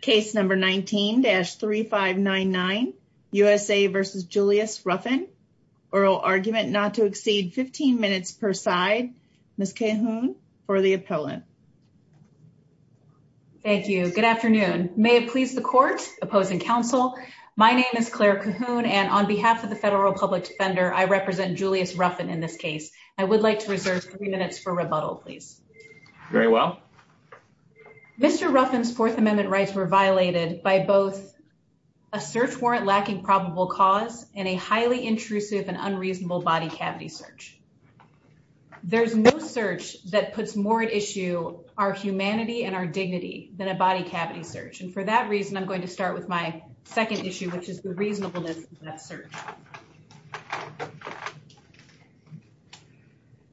Case number 19-3599, USA v. Julius Ruffin. Oral argument not to exceed 15 minutes per side. Ms. Cahoon for the appellant. Thank you. Good afternoon. May it please the court, opposing counsel, my name is Claire Cahoon and on behalf of the Federal Republic Defender, I represent Julius Ruffin in this case. I would like to reserve three minutes for rebuttal, please. Very well. Mr. Ruffin's Fourth Amendment rights were violated by both a search warrant lacking probable cause and a highly intrusive and unreasonable body cavity search. There's no search that puts more at issue our humanity and our dignity than a body cavity search. And for that reason, I'm going to start with my second issue, which is the reasonableness of that search.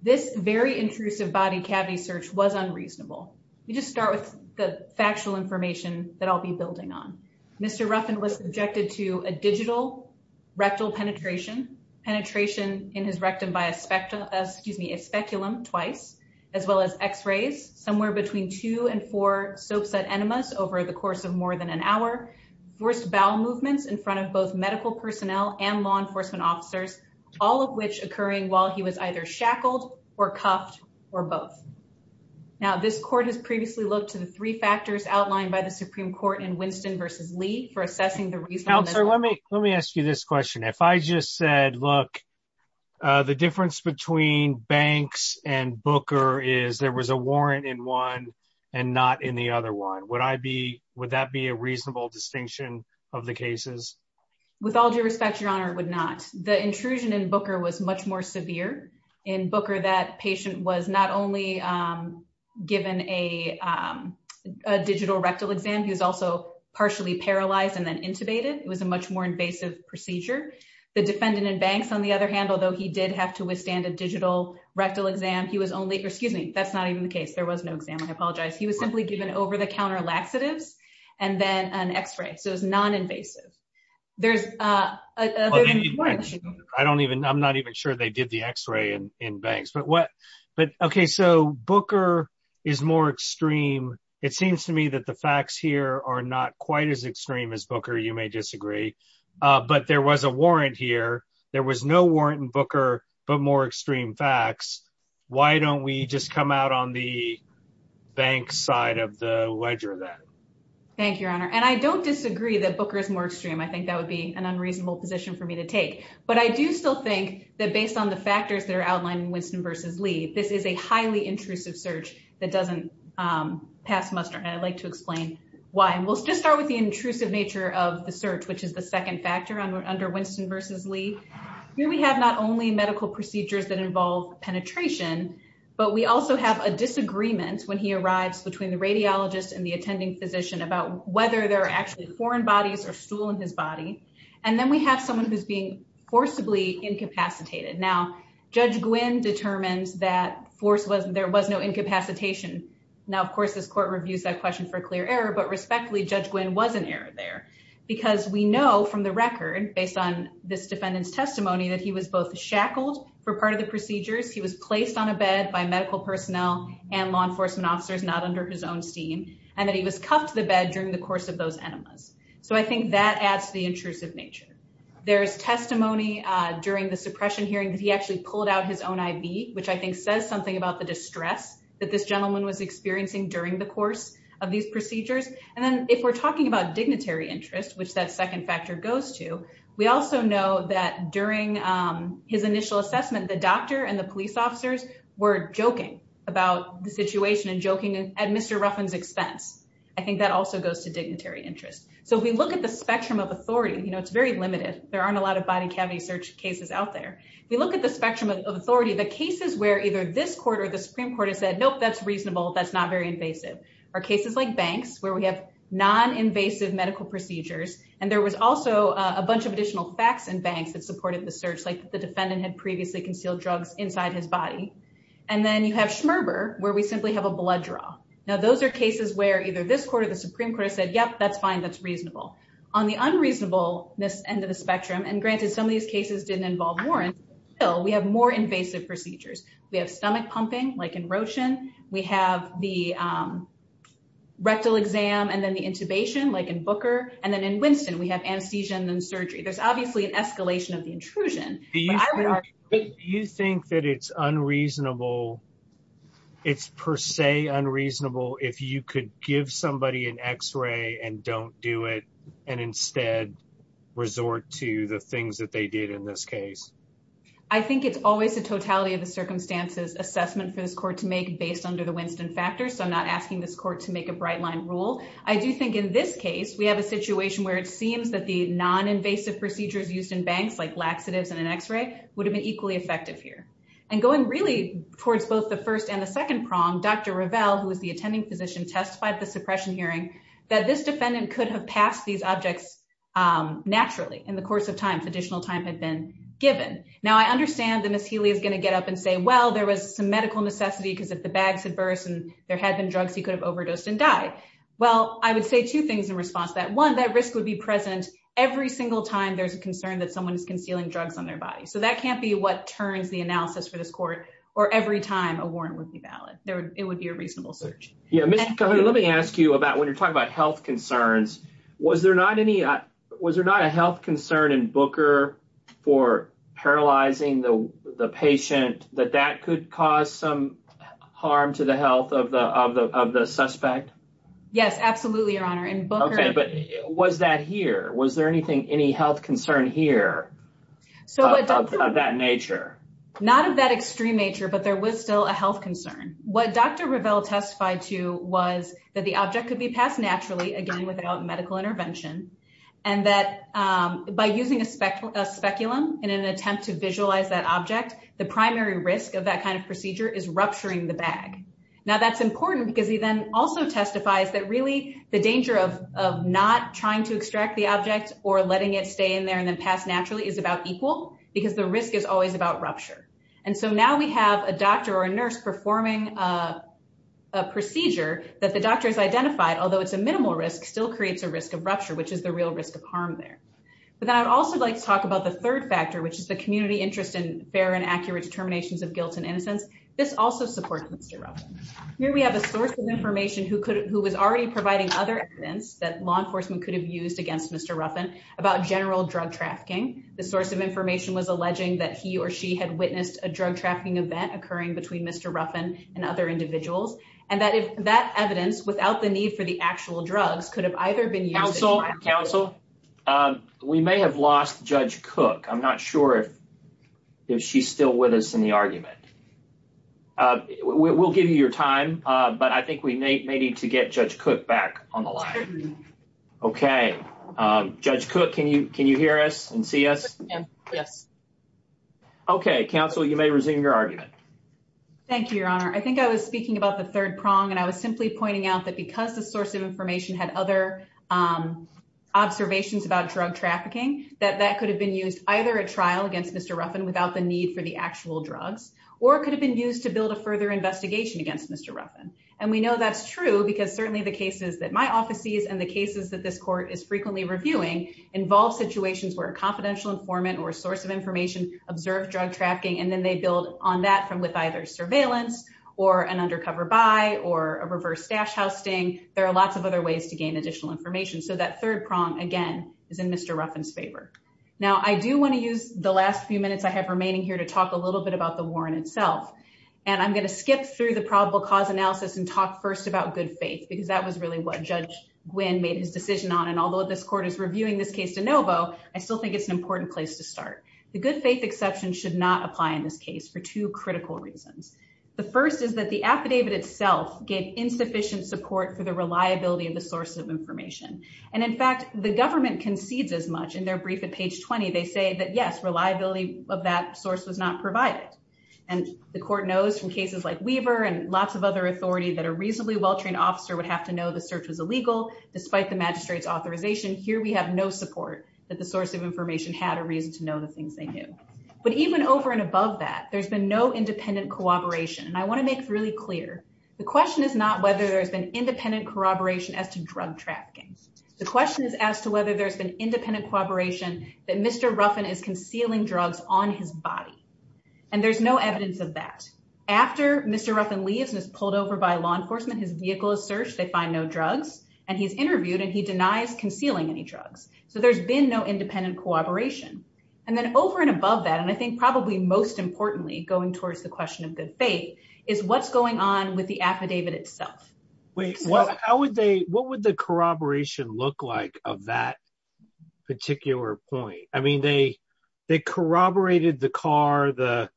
This very intrusive body cavity search was unreasonable. We just start with the factual information that I'll be building on. Mr. Ruffin was subjected to a digital rectal penetration, penetration in his rectum by a speculum twice, as well as x-rays, somewhere between two and four soapset enemas over the course of more than an hour, forced bowel movements in front of both medical personnel and law enforcement officers, all of which occurring while he was either shackled or cuffed or both. Now, this court has previously looked to the three factors outlined by the Supreme Court in Winston versus Lee for assessing the reason. Let me let me ask you this question. If I just said, look, the difference between Banks and Booker is there was a warrant in one and not in the other one. Would that be a reasonable distinction of the cases? With all due respect, Your Honor, it would not. The intrusion in Booker was much more severe. In Booker, that patient was not only given a digital rectal exam, he was also partially paralyzed and then intubated. It was a much more invasive procedure. The defendant in Banks, on the other hand, although he did have to withstand a digital rectal exam, he was only or excuse me, that's not even the case. There was no exam. I apologize. He was simply given over counter laxatives and then an x-ray. So it was non-invasive. There's. I don't even I'm not even sure they did the x-ray in Banks. But what but OK, so Booker is more extreme. It seems to me that the facts here are not quite as extreme as Booker. You may disagree. But there was a warrant here. There was no warrant in Booker, but more extreme facts. Why don't we just come out on the bank side of the ledger then? Thank you, Your Honor. And I don't disagree that Booker is more extreme. I think that would be an unreasonable position for me to take. But I do still think that based on the factors that are outlined in Winston v. Lee, this is a highly intrusive search that doesn't pass muster. And I'd like to explain why. And we'll just start with the intrusive nature of the search, which is the second factor under Winston v. Lee. Here we have not only medical procedures that involve penetration, but we also have a disagreement when he arrives between the radiologist and the attending physician about whether there are actually foreign bodies or stool in his body. And then we have someone who's being forcibly incapacitated. Now, Judge Gwynn determines that force was there was no incapacitation. Now, of course, this court reviews that question for clear error. But respectfully, Judge Gwynn was an error there because we know from the record based on this defendant's testimony that he was both shackled for part of the procedures. He was placed on a bed by medical personnel and law enforcement officers, not under his own steam, and that he was cuffed to the bed during the course of those enemas. So I think that adds to the intrusive nature. There's testimony during the suppression hearing that he actually pulled out his own I.V., which I think says something about the distress that this gentleman was experiencing during the course of these procedures. And then if we're talking about dignitary interest, which that second factor goes to, we also know that during his initial assessment, the doctor and the police officers were joking about the situation and joking at Mr. Ruffin's expense. I think that also goes to dignitary interest. So if we look at the spectrum of authority, it's very limited. There aren't a lot of body cavity search cases out there. If we look at the spectrum of authority, the cases where either this court or the Supreme Court has said, nope, that's reasonable, that's not very invasive, are cases like banks where we have non-invasive medical procedures. And there was also a bunch of additional facts in banks that supported the search, like the defendant had previously concealed drugs inside his body. And then you have Schmerber, where we simply have a blood draw. Now, those are cases where either this court or the Supreme Court has said, yep, that's fine, that's reasonable. On the unreasonableness end of the spectrum, and granted, some of these cases didn't involve warrants, still, we have more invasive procedures. We have stomach pumping, like in Rochin. We have the rectal exam and then the intubation, like in Booker. And then in Winston, we have anesthesia and then surgery. There's obviously an escalation of the intrusion. Do you think that it's unreasonable, it's per se unreasonable if you could give somebody an x-ray and don't do it and instead resort to the things that they did in this case? I think it's always a totality of the circumstances assessment for this court to make based under the Winston factor. So I'm not asking this court to make a bright line rule. I do think in this case, we have a situation where it seems that the non-invasive procedures used in banks, like laxatives and an x-ray, would have been equally effective here. And going really towards both the first and the second prong, Dr. Revelle, who was the attending physician, testified at the suppression hearing that this defendant could have passed these objects naturally in the course of time, if additional time had been given. Now, I understand that Ms. Healy is going to get up and say, well, there was some medical necessity because if the bags had well, I would say two things in response to that. One, that risk would be present every single time there's a concern that someone is concealing drugs on their body. So that can't be what turns the analysis for this court or every time a warrant would be valid. It would be a reasonable search. Yeah, Ms. Cahoon, let me ask you about when you're talking about health concerns. Was there not a health concern in Booker for paralyzing the patient that that could cause some harm to the health of the suspect? Yes, absolutely, Your Honor. Okay, but was that here? Was there anything, any health concern here of that nature? Not of that extreme nature, but there was still a health concern. What Dr. Revelle testified to was that the object could be passed naturally, again, without medical intervention, and that by using a speculum in an attempt to visualize that object, the primary risk of that kind of procedure is rupturing the bag. Now, that's important because he then also testifies that really the danger of not trying to extract the object or letting it stay in there and then pass naturally is about equal because the risk is always about rupture. And so now we have a doctor or a nurse performing a procedure that the doctor has identified, although it's a minimal risk, still creates a risk of rupture, which is the real risk of harm there. But then I'd also like to talk about the third factor, which is the community interest in fair and accurate determinations of guilt and innocence. This also supports Mr. Ruffin. Here we have a source of information who was already providing other evidence that law enforcement could have used against Mr. Ruffin about general drug trafficking. The source of information was alleging that he or she had witnessed a drug trafficking event occurring between Mr. Ruffin and other individuals, and that that evidence, without the need for the actual drugs, could have either been counsel. We may have lost Judge Cook. I'm not sure if if she's still with us in the argument. We'll give you your time, but I think we may need to get Judge Cook back on the line. OK, Judge Cook, can you can you hear us and see us? Yes. OK, counsel, you may resume your argument. Thank you, Your Honor. I think I was speaking about the third prong and I was simply pointing out that because the source of information had other observations about drug trafficking, that that could have been used either a trial against Mr. Ruffin without the need for the actual drugs or could have been used to build a further investigation against Mr. Ruffin. And we know that's true because certainly the cases that my office sees and the cases that this court is frequently reviewing involve situations where a confidential informant or source of information observed drug trafficking. And then they build on that from with surveillance or an undercover buy or a reverse stash housing. There are lots of other ways to gain additional information. So that third prong, again, is in Mr. Ruffin's favor. Now, I do want to use the last few minutes I have remaining here to talk a little bit about the warrant itself. And I'm going to skip through the probable cause analysis and talk first about good faith, because that was really what Judge Gwynne made his decision on. And although this court is reviewing this case de novo, I still think it's an important place to start. The good faith exception should not apply in this case for two critical reasons. The first is that the affidavit itself gave insufficient support for the reliability of the source of information. And in fact, the government concedes as much in their brief at page 20. They say that, yes, reliability of that source was not provided. And the court knows from cases like Weaver and lots of other authority that a reasonably well-trained officer would have to know the search was illegal despite the magistrate's authorization. Here we have no support that the source of information had a reason to know the that. There's been no independent cooperation. And I want to make really clear the question is not whether there's been independent corroboration as to drug trafficking. The question is as to whether there's been independent cooperation that Mr. Ruffin is concealing drugs on his body. And there's no evidence of that. After Mr. Ruffin leaves and is pulled over by law enforcement, his vehicle is searched. They find no drugs. And he's interviewed and he denies concealing any drugs. So there's been no independent cooperation. And then over and above that, I think probably most importantly, going towards the question of good faith, is what's going on with the affidavit itself. Wait, well, how would they what would the corroboration look like of that particular point? I mean, they they corroborated the car, the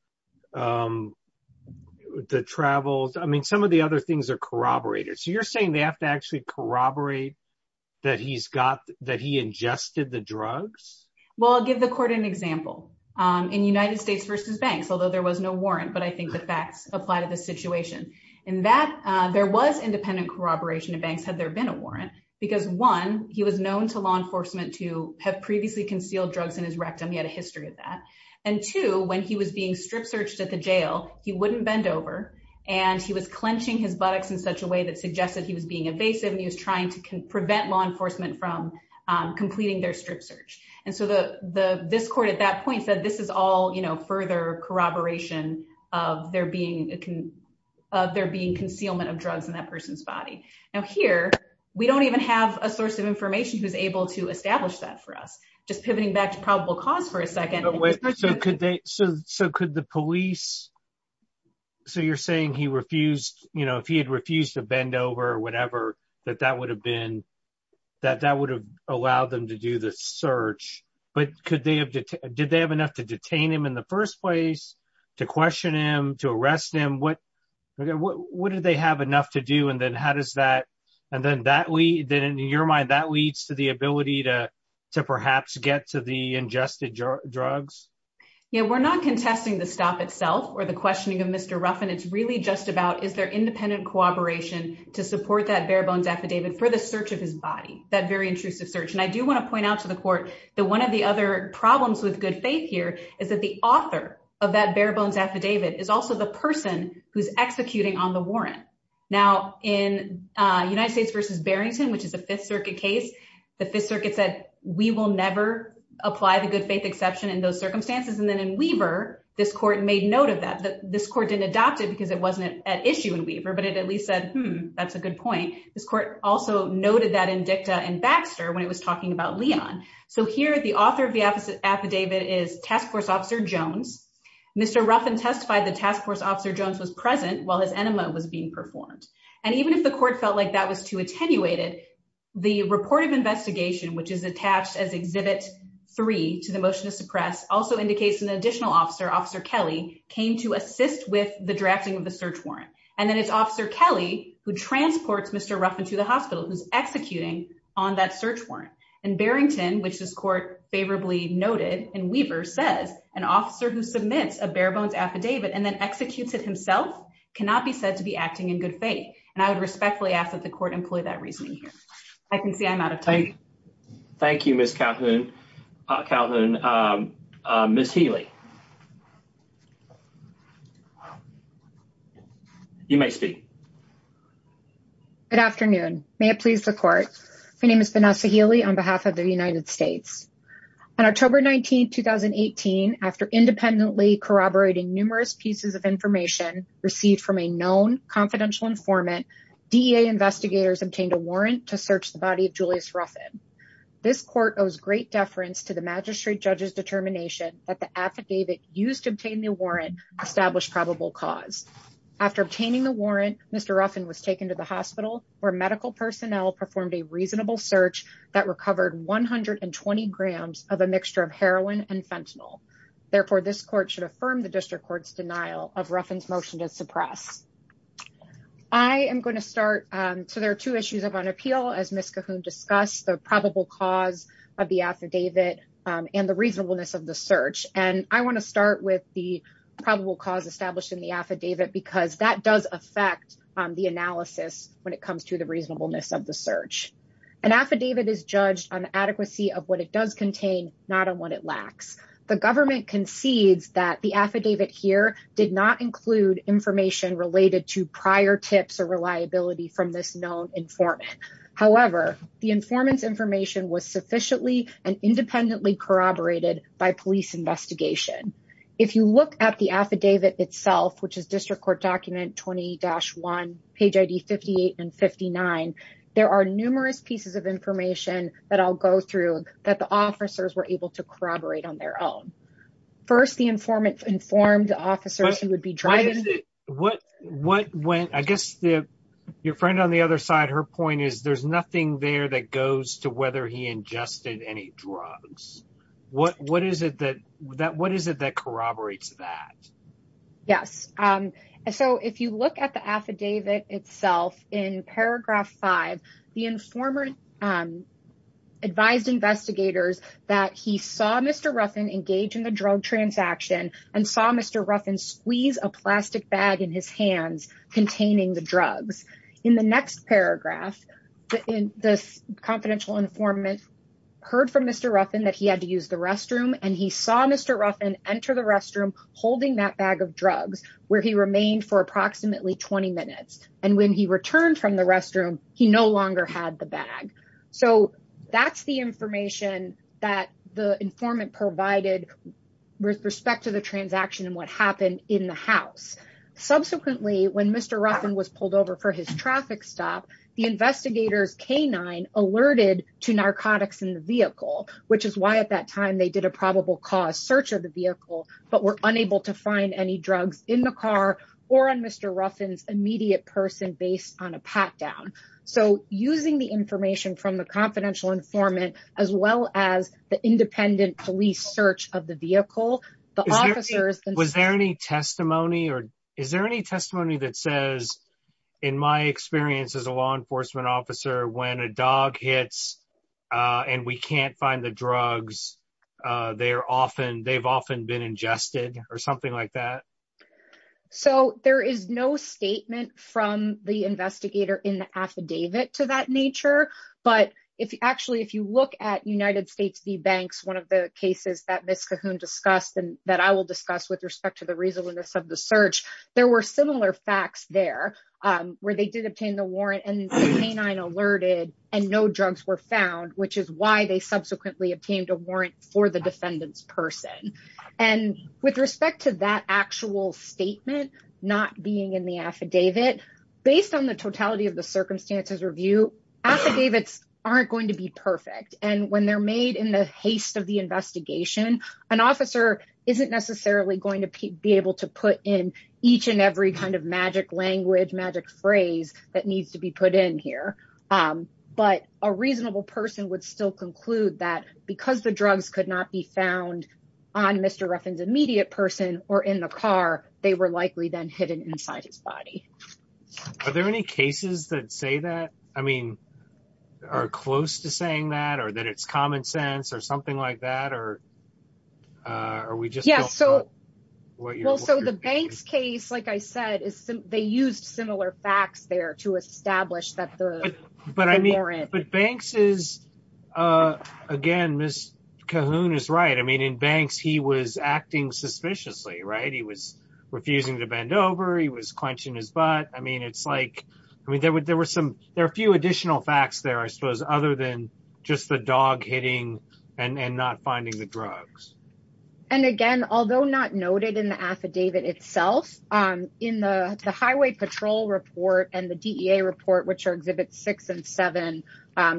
travels. I mean, some of the other things are corroborated. So you're saying they have to actually corroborate that he's got that he ingested the drugs? Well, I'll give the court an example. In United States versus banks, although there was no warrant, but I think the facts apply to the situation in that there was independent corroboration of banks had there been a warrant, because one, he was known to law enforcement to have previously concealed drugs in his rectum. He had a history of that. And two, when he was being strip searched at the jail, he wouldn't bend over and he was clenching his buttocks in such a way that suggested he was being evasive and he was trying to prevent law enforcement from completing their strip search. And so this court at that point said this is all further corroboration of there being concealment of drugs in that person's body. Now, here we don't even have a source of information who's able to establish that for us. Just pivoting back to probable cause for a second. So could the police. So you're saying he refused if he had refused to bend over or whatever, that that would have allowed them to do the search. But did they have enough to detain him in the first place, to question him, to arrest him? What did they have enough to do? And then in your mind, that leads to the ability to perhaps get to the ingested drugs? Yeah, we're not contesting the stop itself or the questioning of Mr. Ruffin. It's really just is there independent cooperation to support that bare bones affidavit for the search of his body, that very intrusive search. And I do want to point out to the court that one of the other problems with good faith here is that the author of that bare bones affidavit is also the person who's executing on the warrant. Now, in United States versus Barrington, which is a Fifth Circuit case, the Fifth Circuit said we will never apply the good faith exception in those circumstances. And then in Weaver, this court made note of that. This court didn't adopt it because it wasn't at issue in Weaver, but it at least said, hmm, that's a good point. This court also noted that in Dicta and Baxter when it was talking about Leon. So here, the author of the affidavit is task force officer Jones. Mr. Ruffin testified the task force officer Jones was present while his enema was being performed. And even if the court felt like that was too attenuated, the report of investigation, which is attached as exhibit three to the motion to suppress, also indicates an additional officer, Officer Kelly, came to assist with the drafting of the search warrant. And then it's Officer Kelly who transports Mr. Ruffin to the hospital, who's executing on that search warrant. And Barrington, which this court favorably noted in Weaver, says an officer who submits a bare bones affidavit and then executes it himself cannot be said to be acting in good faith. And I would respectfully ask that the court employ that reasoning here. I can see I'm out of time. Thank you, Ms. Calhoun. Ms. Healy, you may speak. Good afternoon. May it please the court. My name is Vanessa Healy on behalf of the United States. On October 19, 2018, after independently corroborating numerous pieces of information received from a known confidential informant, DEA investigators obtained a warrant to search the body of Julius Ruffin. This court owes great deference to the magistrate judge's determination that the affidavit used to obtain the warrant established probable cause. After obtaining the warrant, Mr. Ruffin was taken to the hospital where medical personnel performed a reasonable search that recovered 120 grams of a mixture of heroin and fentanyl. Therefore, this court should affirm the district court's denial of Ruffin's motion to suppress. I am going to start. So there are two issues of an appeal, as Ms. Calhoun discussed, the probable cause of the affidavit and the reasonableness of the search. And I want to start with the probable cause established in the affidavit, because that does affect the analysis when it comes to the reasonableness of the search. An affidavit is judged on adequacy of what it does contain, not on what it lacks. The government concedes that the affidavit here did not include information related to prior tips or reliability from this known informant. However, the informant's information was sufficiently and independently corroborated by police investigation. If you look at the affidavit itself, which is district court document 20-1, page ID 58 and 59, there are numerous pieces of information that I'll go through that the I guess your friend on the other side, her point is there's nothing there that goes to whether he ingested any drugs. What is it that corroborates that? Yes. So if you look at the affidavit itself in paragraph five, the informant advised investigators that he saw Mr. Ruffin engage in the drug transaction and saw Mr. Ruffin squeeze a plastic bag in his hands containing the drugs. In the next paragraph, the confidential informant heard from Mr. Ruffin that he had to use the restroom and he saw Mr. Ruffin enter the restroom holding that bag of drugs where he remained for approximately 20 minutes. And when he returned from the restroom, he no longer had the bag. So that's the information that the informant provided with respect to the transaction and what happened in the house. Subsequently, when Mr. Ruffin was pulled over for his traffic stop, the investigators canine alerted to narcotics in the vehicle, which is why at that time they did a probable cause search of the vehicle, but were unable to find any drugs in the car or on Mr. Ruffin's immediate person based on a pat down. So using the information from the confidential informant, as well as the independent police search of the vehicle, the officers... Was there any testimony or is there any testimony that says, in my experience as a law enforcement officer, when a dog hits and we can't find the drugs, they've often been ingested or something like that? So there is no statement from the investigator in the affidavit to that nature. But actually, if you look at United States v. Banks, one of the cases that Ms. Cahoon discussed and that I will discuss with respect to the reasonableness of the search, there were similar facts there where they did obtain the warrant and the canine alerted and no drugs were found, which is why they subsequently obtained a warrant for the defendant's person. And with respect to that actual statement not being in the affidavit, based on the totality of the circumstances review, affidavits aren't going to be perfect. And when they're made in the haste of the investigation, an officer isn't necessarily going to be able to put in each and every kind of magic language, magic phrase that needs to be put in here. But a reasonable person would still conclude that because the drugs could not be found on Mr. Ruffin's immediate person or in the car, they were likely then hidden inside his body. Are there any cases that say that? I mean, are close to saying that or that it's common sense or something like that? Well, so the Banks case, like I said, they used similar facts there to establish that the Banks is, again, Ms. Cahoon is right. I mean, in Banks, he was acting suspiciously, right? He was refusing to bend over. He was clenching his butt. I mean, it's like, I mean, there were some, there are a few additional facts there, I suppose, other than just the dog hitting and not finding the drugs. And again, although not noted in the affidavit itself, in the highway patrol report and the DEA report, which are exhibits six and seven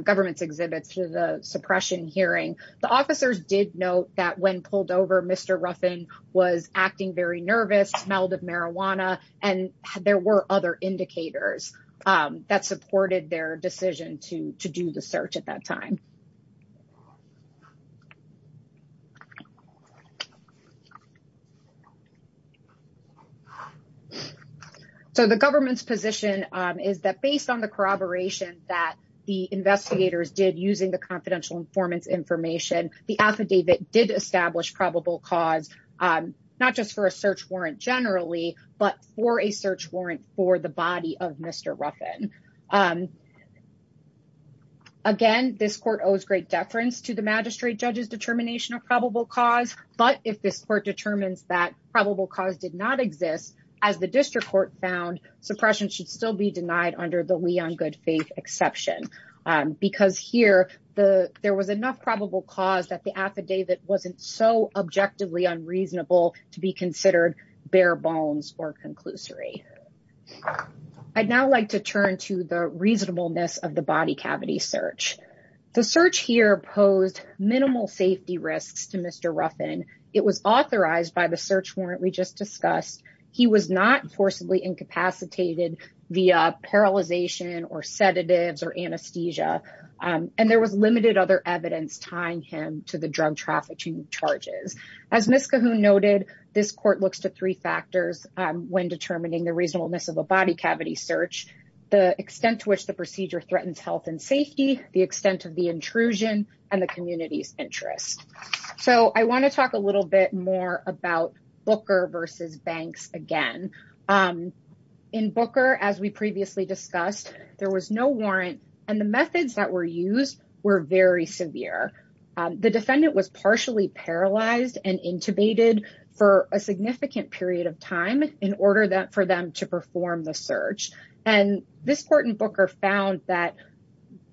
government's exhibits to the suppression hearing, the officers did note that when pulled over, Mr. Ruffin was acting very nervous, smelled of marijuana, and there were other indicators that supported their decision to do the search at that time. So the government's position is that based on the corroboration that the investigators did using the confidential informant's information, the affidavit did establish probable cause, not just for a search warrant generally, but for a search warrant for the body of Mr. Ruffin. Again, this court owes great deference to the magistrate judge's determination of probable cause, but if this court determines that probable cause did not exist, as the district court found, suppression should still be denied under the we on good faith exception. Because here, there was enough probable cause that the affidavit wasn't so objectively unreasonable to be considered bare bones or conclusory. I'd now like to turn to the reasonableness of the body cavity search. The search here posed minimal safety risks to Mr. Ruffin. It was authorized by the search warrant we just discussed. He was not forcibly incapacitated via paralyzation or sedatives or anesthesia. And there was limited other evidence tying him to the drug trafficking charges. As Ms. Cahoon noted, this court looks to three factors when threatens health and safety, the extent of the intrusion, and the community's interest. So I want to talk a little bit more about Booker versus Banks again. In Booker, as we previously discussed, there was no warrant and the methods that were used were very severe. The defendant was partially paralyzed and intubated for a significant period of time in order for them to perform the search. And this court in Booker found that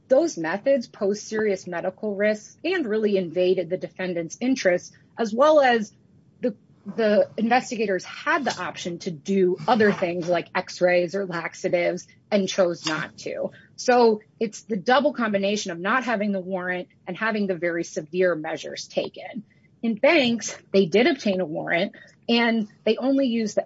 those methods posed serious medical risks and really invaded the defendant's interest, as well as the investigators had the option to do other things like x-rays or laxatives and chose not to. So it's the double combination of not having the warrant and having the very severe measures taken. In Banks, they did obtain a And I want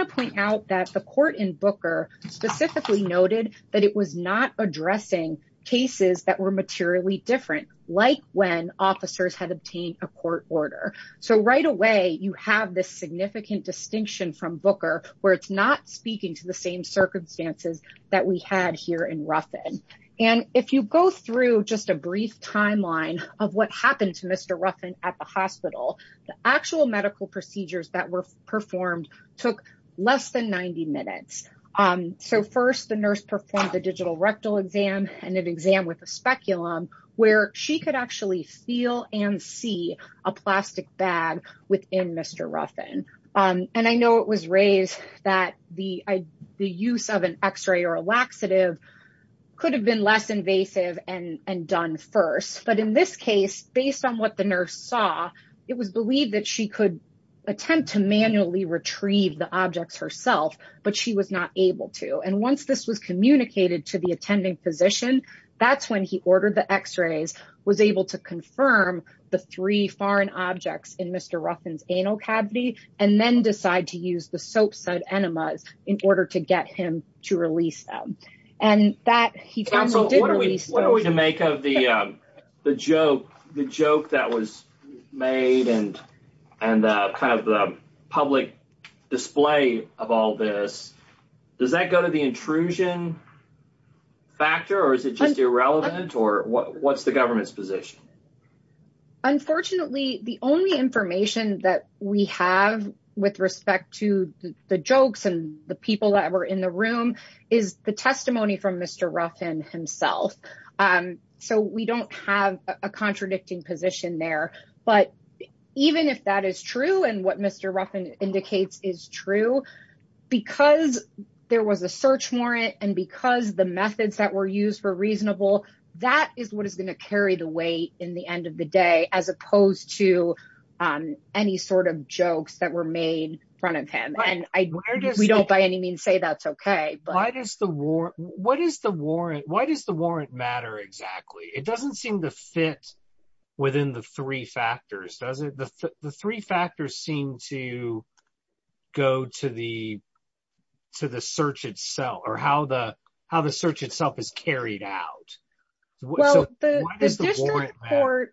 to point out that the court in Booker specifically noted that it was not addressing cases that were materially different, like when officers had obtained a court order. So right away, you have this significant distinction from Booker, where it's not speaking to the same circumstances that we had here in Ruffin. And if you go through just a brief timeline of what happened to Mr. Ruffin at the hospital, the actual medical procedures that performed took less than 90 minutes. So first, the nurse performed the digital rectal exam and an exam with a speculum where she could actually feel and see a plastic bag within Mr. Ruffin. And I know it was raised that the use of an x-ray or a laxative could have been less invasive and done first. But in this case, based on what the nurse saw, it was believed that she could attempt to manually retrieve the objects herself, but she was not able to. And once this was communicated to the attending physician, that's when he ordered the x-rays, was able to confirm the three foreign objects in Mr. Ruffin's anal cavity, and then decide to use the soap-side enemas in order to get him to release them. And that he did release. What are we to make of the joke that was made and kind of the public display of all this? Does that go to the intrusion factor, or is it just irrelevant, or what's the government's position? Unfortunately, the only information that we have with respect to the jokes and the people that were in the room is the testimony from Mr. Ruffin himself. So we don't have a contradicting position there. But even if that is true, and what Mr. Ruffin indicates is true, because there was a search warrant, and because the methods that were used were reasonable, that is what is going to carry the weight in the end of the day, as opposed to any sort of jokes that were made in front of him. And we don't by any means say that's okay. What is the warrant? Why does the warrant matter exactly? It doesn't seem to fit within the three factors, does it? The three factors seem to go to the search itself, or how the search itself is carried out. Well, the district court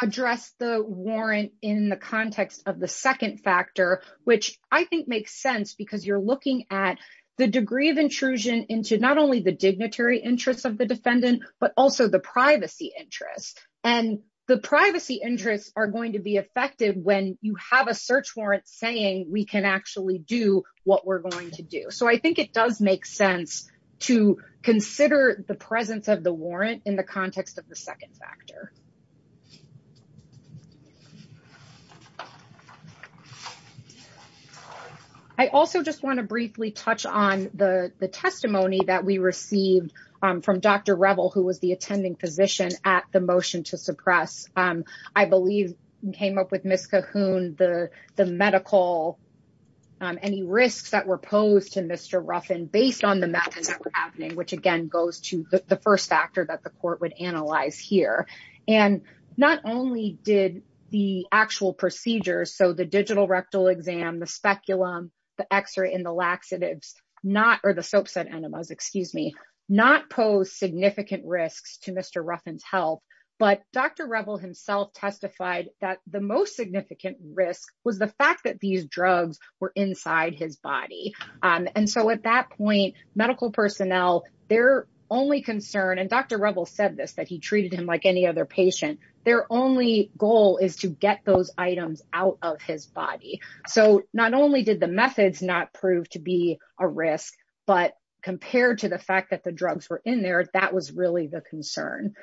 addressed the warrant in the context of the second factor, which I think makes sense because you're looking at the degree of intrusion into not only the dignitary interests of the defendant, but also the privacy interests. And the privacy interests are going to be effective when you have a search warrant saying we can actually do what we're going to do. So I it does make sense to consider the presence of the warrant in the context of the second factor. I also just want to briefly touch on the testimony that we received from Dr. Revel, who was the attending physician at the motion to suppress. I believe came up with Ms. Cahoon, the medical, any risks that were posed to Mr. Ruffin based on the methods that were happening, which again goes to the first factor that the court would analyze here. And not only did the actual procedures, so the digital rectal exam, the speculum, the x-ray and the laxatives, not or the soap set enemas, excuse me, not pose significant risks to Mr. Ruffin's health. But Dr. Revel himself testified that the most significant risk was the fact that these drugs were inside his body. And so at that point, medical personnel, their only concern, and Dr. Revel said this, that he treated him like any other patient. Their only goal is to get those items out of his body. So not only did the methods not prove to be a risk, but compared to the fact the drugs were in there, that was really the concern.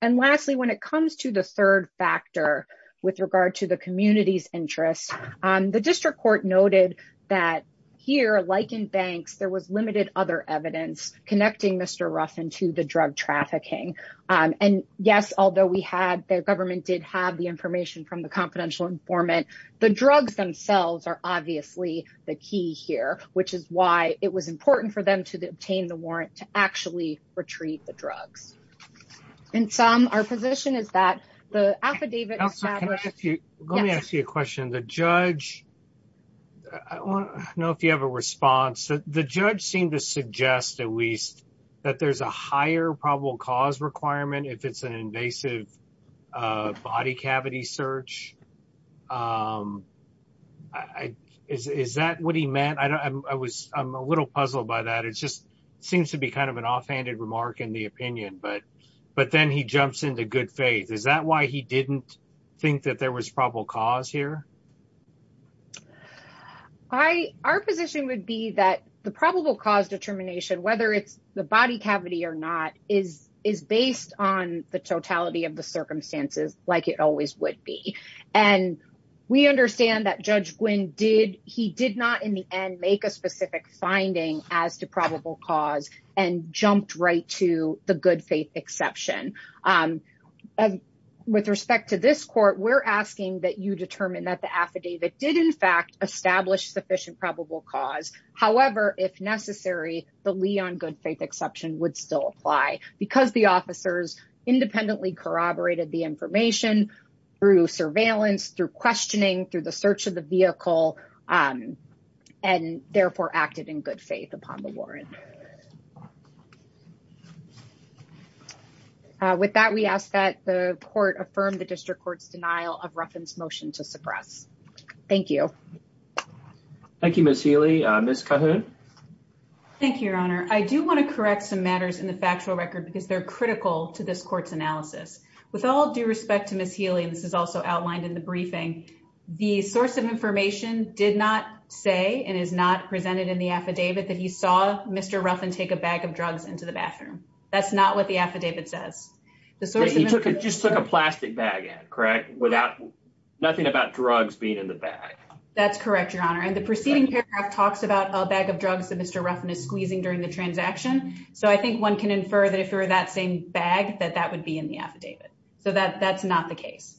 And lastly, when it comes to the third factor with regard to the community's interest, the district court noted that here, like in banks, there was limited other evidence connecting Mr. Ruffin to the drug trafficking. And yes, although we had, the government did have the information from the confidential informant, the drugs themselves are obviously the key here, which is why it was important for them to obtain the warrant to actually retrieve the drugs. And Sam, our position is that the affidavit- Let me ask you a question. The judge, I don't know if you have a response, the judge seemed to suggest at least that there's a higher probable cause requirement if it's an invasive body cavity search. Is that what he meant? I'm a little puzzled by that. It's to be kind of an offhanded remark in the opinion, but then he jumps into good faith. Is that why he didn't think that there was probable cause here? Our position would be that the probable cause determination, whether it's the body cavity or not, is based on the totality of the circumstances like it always would be. And we understand that Judge Gwinn did, he did not in the end make a and jumped right to the good faith exception. With respect to this court, we're asking that you determine that the affidavit did in fact establish sufficient probable cause. However, if necessary, the Leon good faith exception would still apply because the officers independently corroborated the information through surveillance, through questioning, through the search of the vehicle, and therefore acted in good faith upon the warrant. With that, we ask that the court affirm the district court's denial of Ruffin's motion to suppress. Thank you. Thank you, Ms. Healy. Ms. Cahoon? Thank you, your honor. I do want to correct some matters in the factual record because they're critical to this court's analysis. With all due respect to Ms. Healy, and this is also outlined in the briefing, the source of information did not say and is not presented in the affidavit that he saw Mr. Ruffin take a bag of drugs into the bathroom. That's not what the affidavit says. He just took a plastic bag, correct? Nothing about drugs being in the bag. That's correct, your honor. And the preceding paragraph talks about a bag of drugs that Mr. Ruffin is squeezing during the transaction. So I think one can infer that if it were that same bag, that that would be in the affidavit. So that's not the case.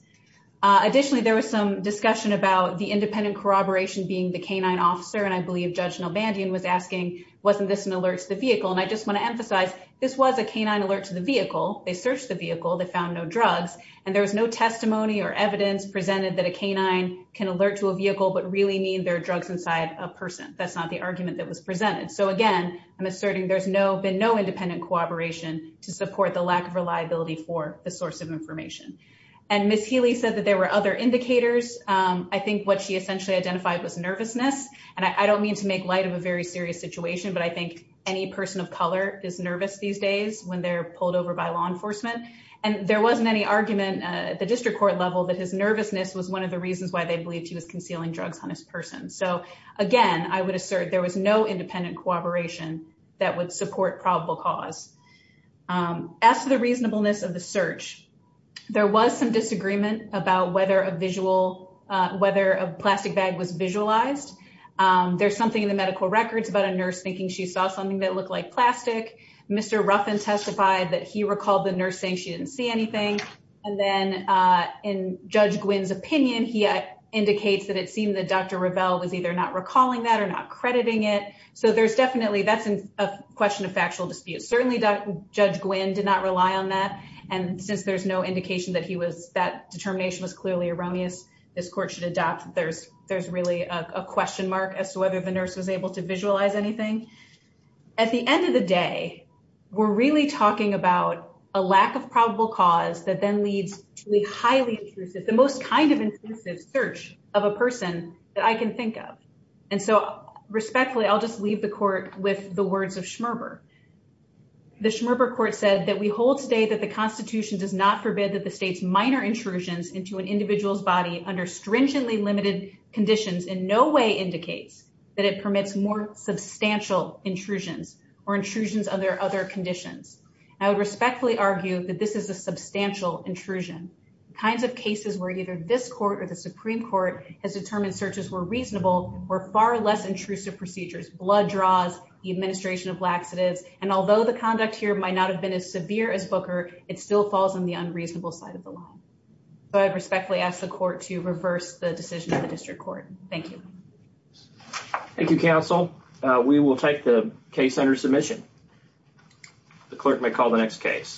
Additionally, there was some discussion about the independent corroboration being the canine officer. And I believe Judge Albandian was asking, wasn't this an alert to the vehicle? And I just want to emphasize, this was a canine alert to the vehicle. They searched the vehicle, they found no drugs, and there was no testimony or evidence presented that a canine can alert to a vehicle but really mean there are drugs inside a person. That's not the argument that was presented. So again, I'm asserting there's been no independent corroboration to support the lack of reliability for the source of information. And Ms. Healy said that there were other indicators. I think what essentially identified was nervousness. And I don't mean to make light of a very serious situation, but I think any person of color is nervous these days when they're pulled over by law enforcement. And there wasn't any argument at the district court level that his nervousness was one of the reasons why they believed he was concealing drugs on his person. So again, I would assert there was no independent corroboration that would support probable cause. As to the reasonableness of the search, there was some disagreement about whether a visual, whether a plastic bag was visualized. There's something in the medical records about a nurse thinking she saw something that looked like plastic. Mr. Ruffin testified that he recalled the nurse saying she didn't see anything. And then in Judge Gwynn's opinion, he indicates that it seemed that Dr. Revelle was either not recalling that or not crediting it. So there's definitely, that's a question of factual dispute. Certainly Judge Gwynn did not rely on that. And since there's no indication that he was, that determination was clearly erroneous, this court should adopt that there's really a question mark as to whether the nurse was able to visualize anything. At the end of the day, we're really talking about a lack of probable cause that then leads to a highly intrusive, the most kind of intrusive search of a person that I can think of. And so respectfully, I'll just leave the court with the words of Schmerber. The Schmerber court said that we hold today that the constitution does not forbid that the state's minor intrusions into an individual's body under stringently limited conditions in no way indicates that it permits more substantial intrusions or intrusions under other conditions. I would respectfully argue that this is a substantial intrusion. The kinds of cases where either this court or the Supreme Court has determined searches were reasonable or far less intrusive procedures, blood draws, the administration of laxatives. And although the conduct here might not have been as severe as Booker, it still falls on the unreasonable side of the law. So I respectfully ask the court to reverse the decision of the district court. Thank you. Thank you, counsel. We will take the case under submission. The clerk may call the next case.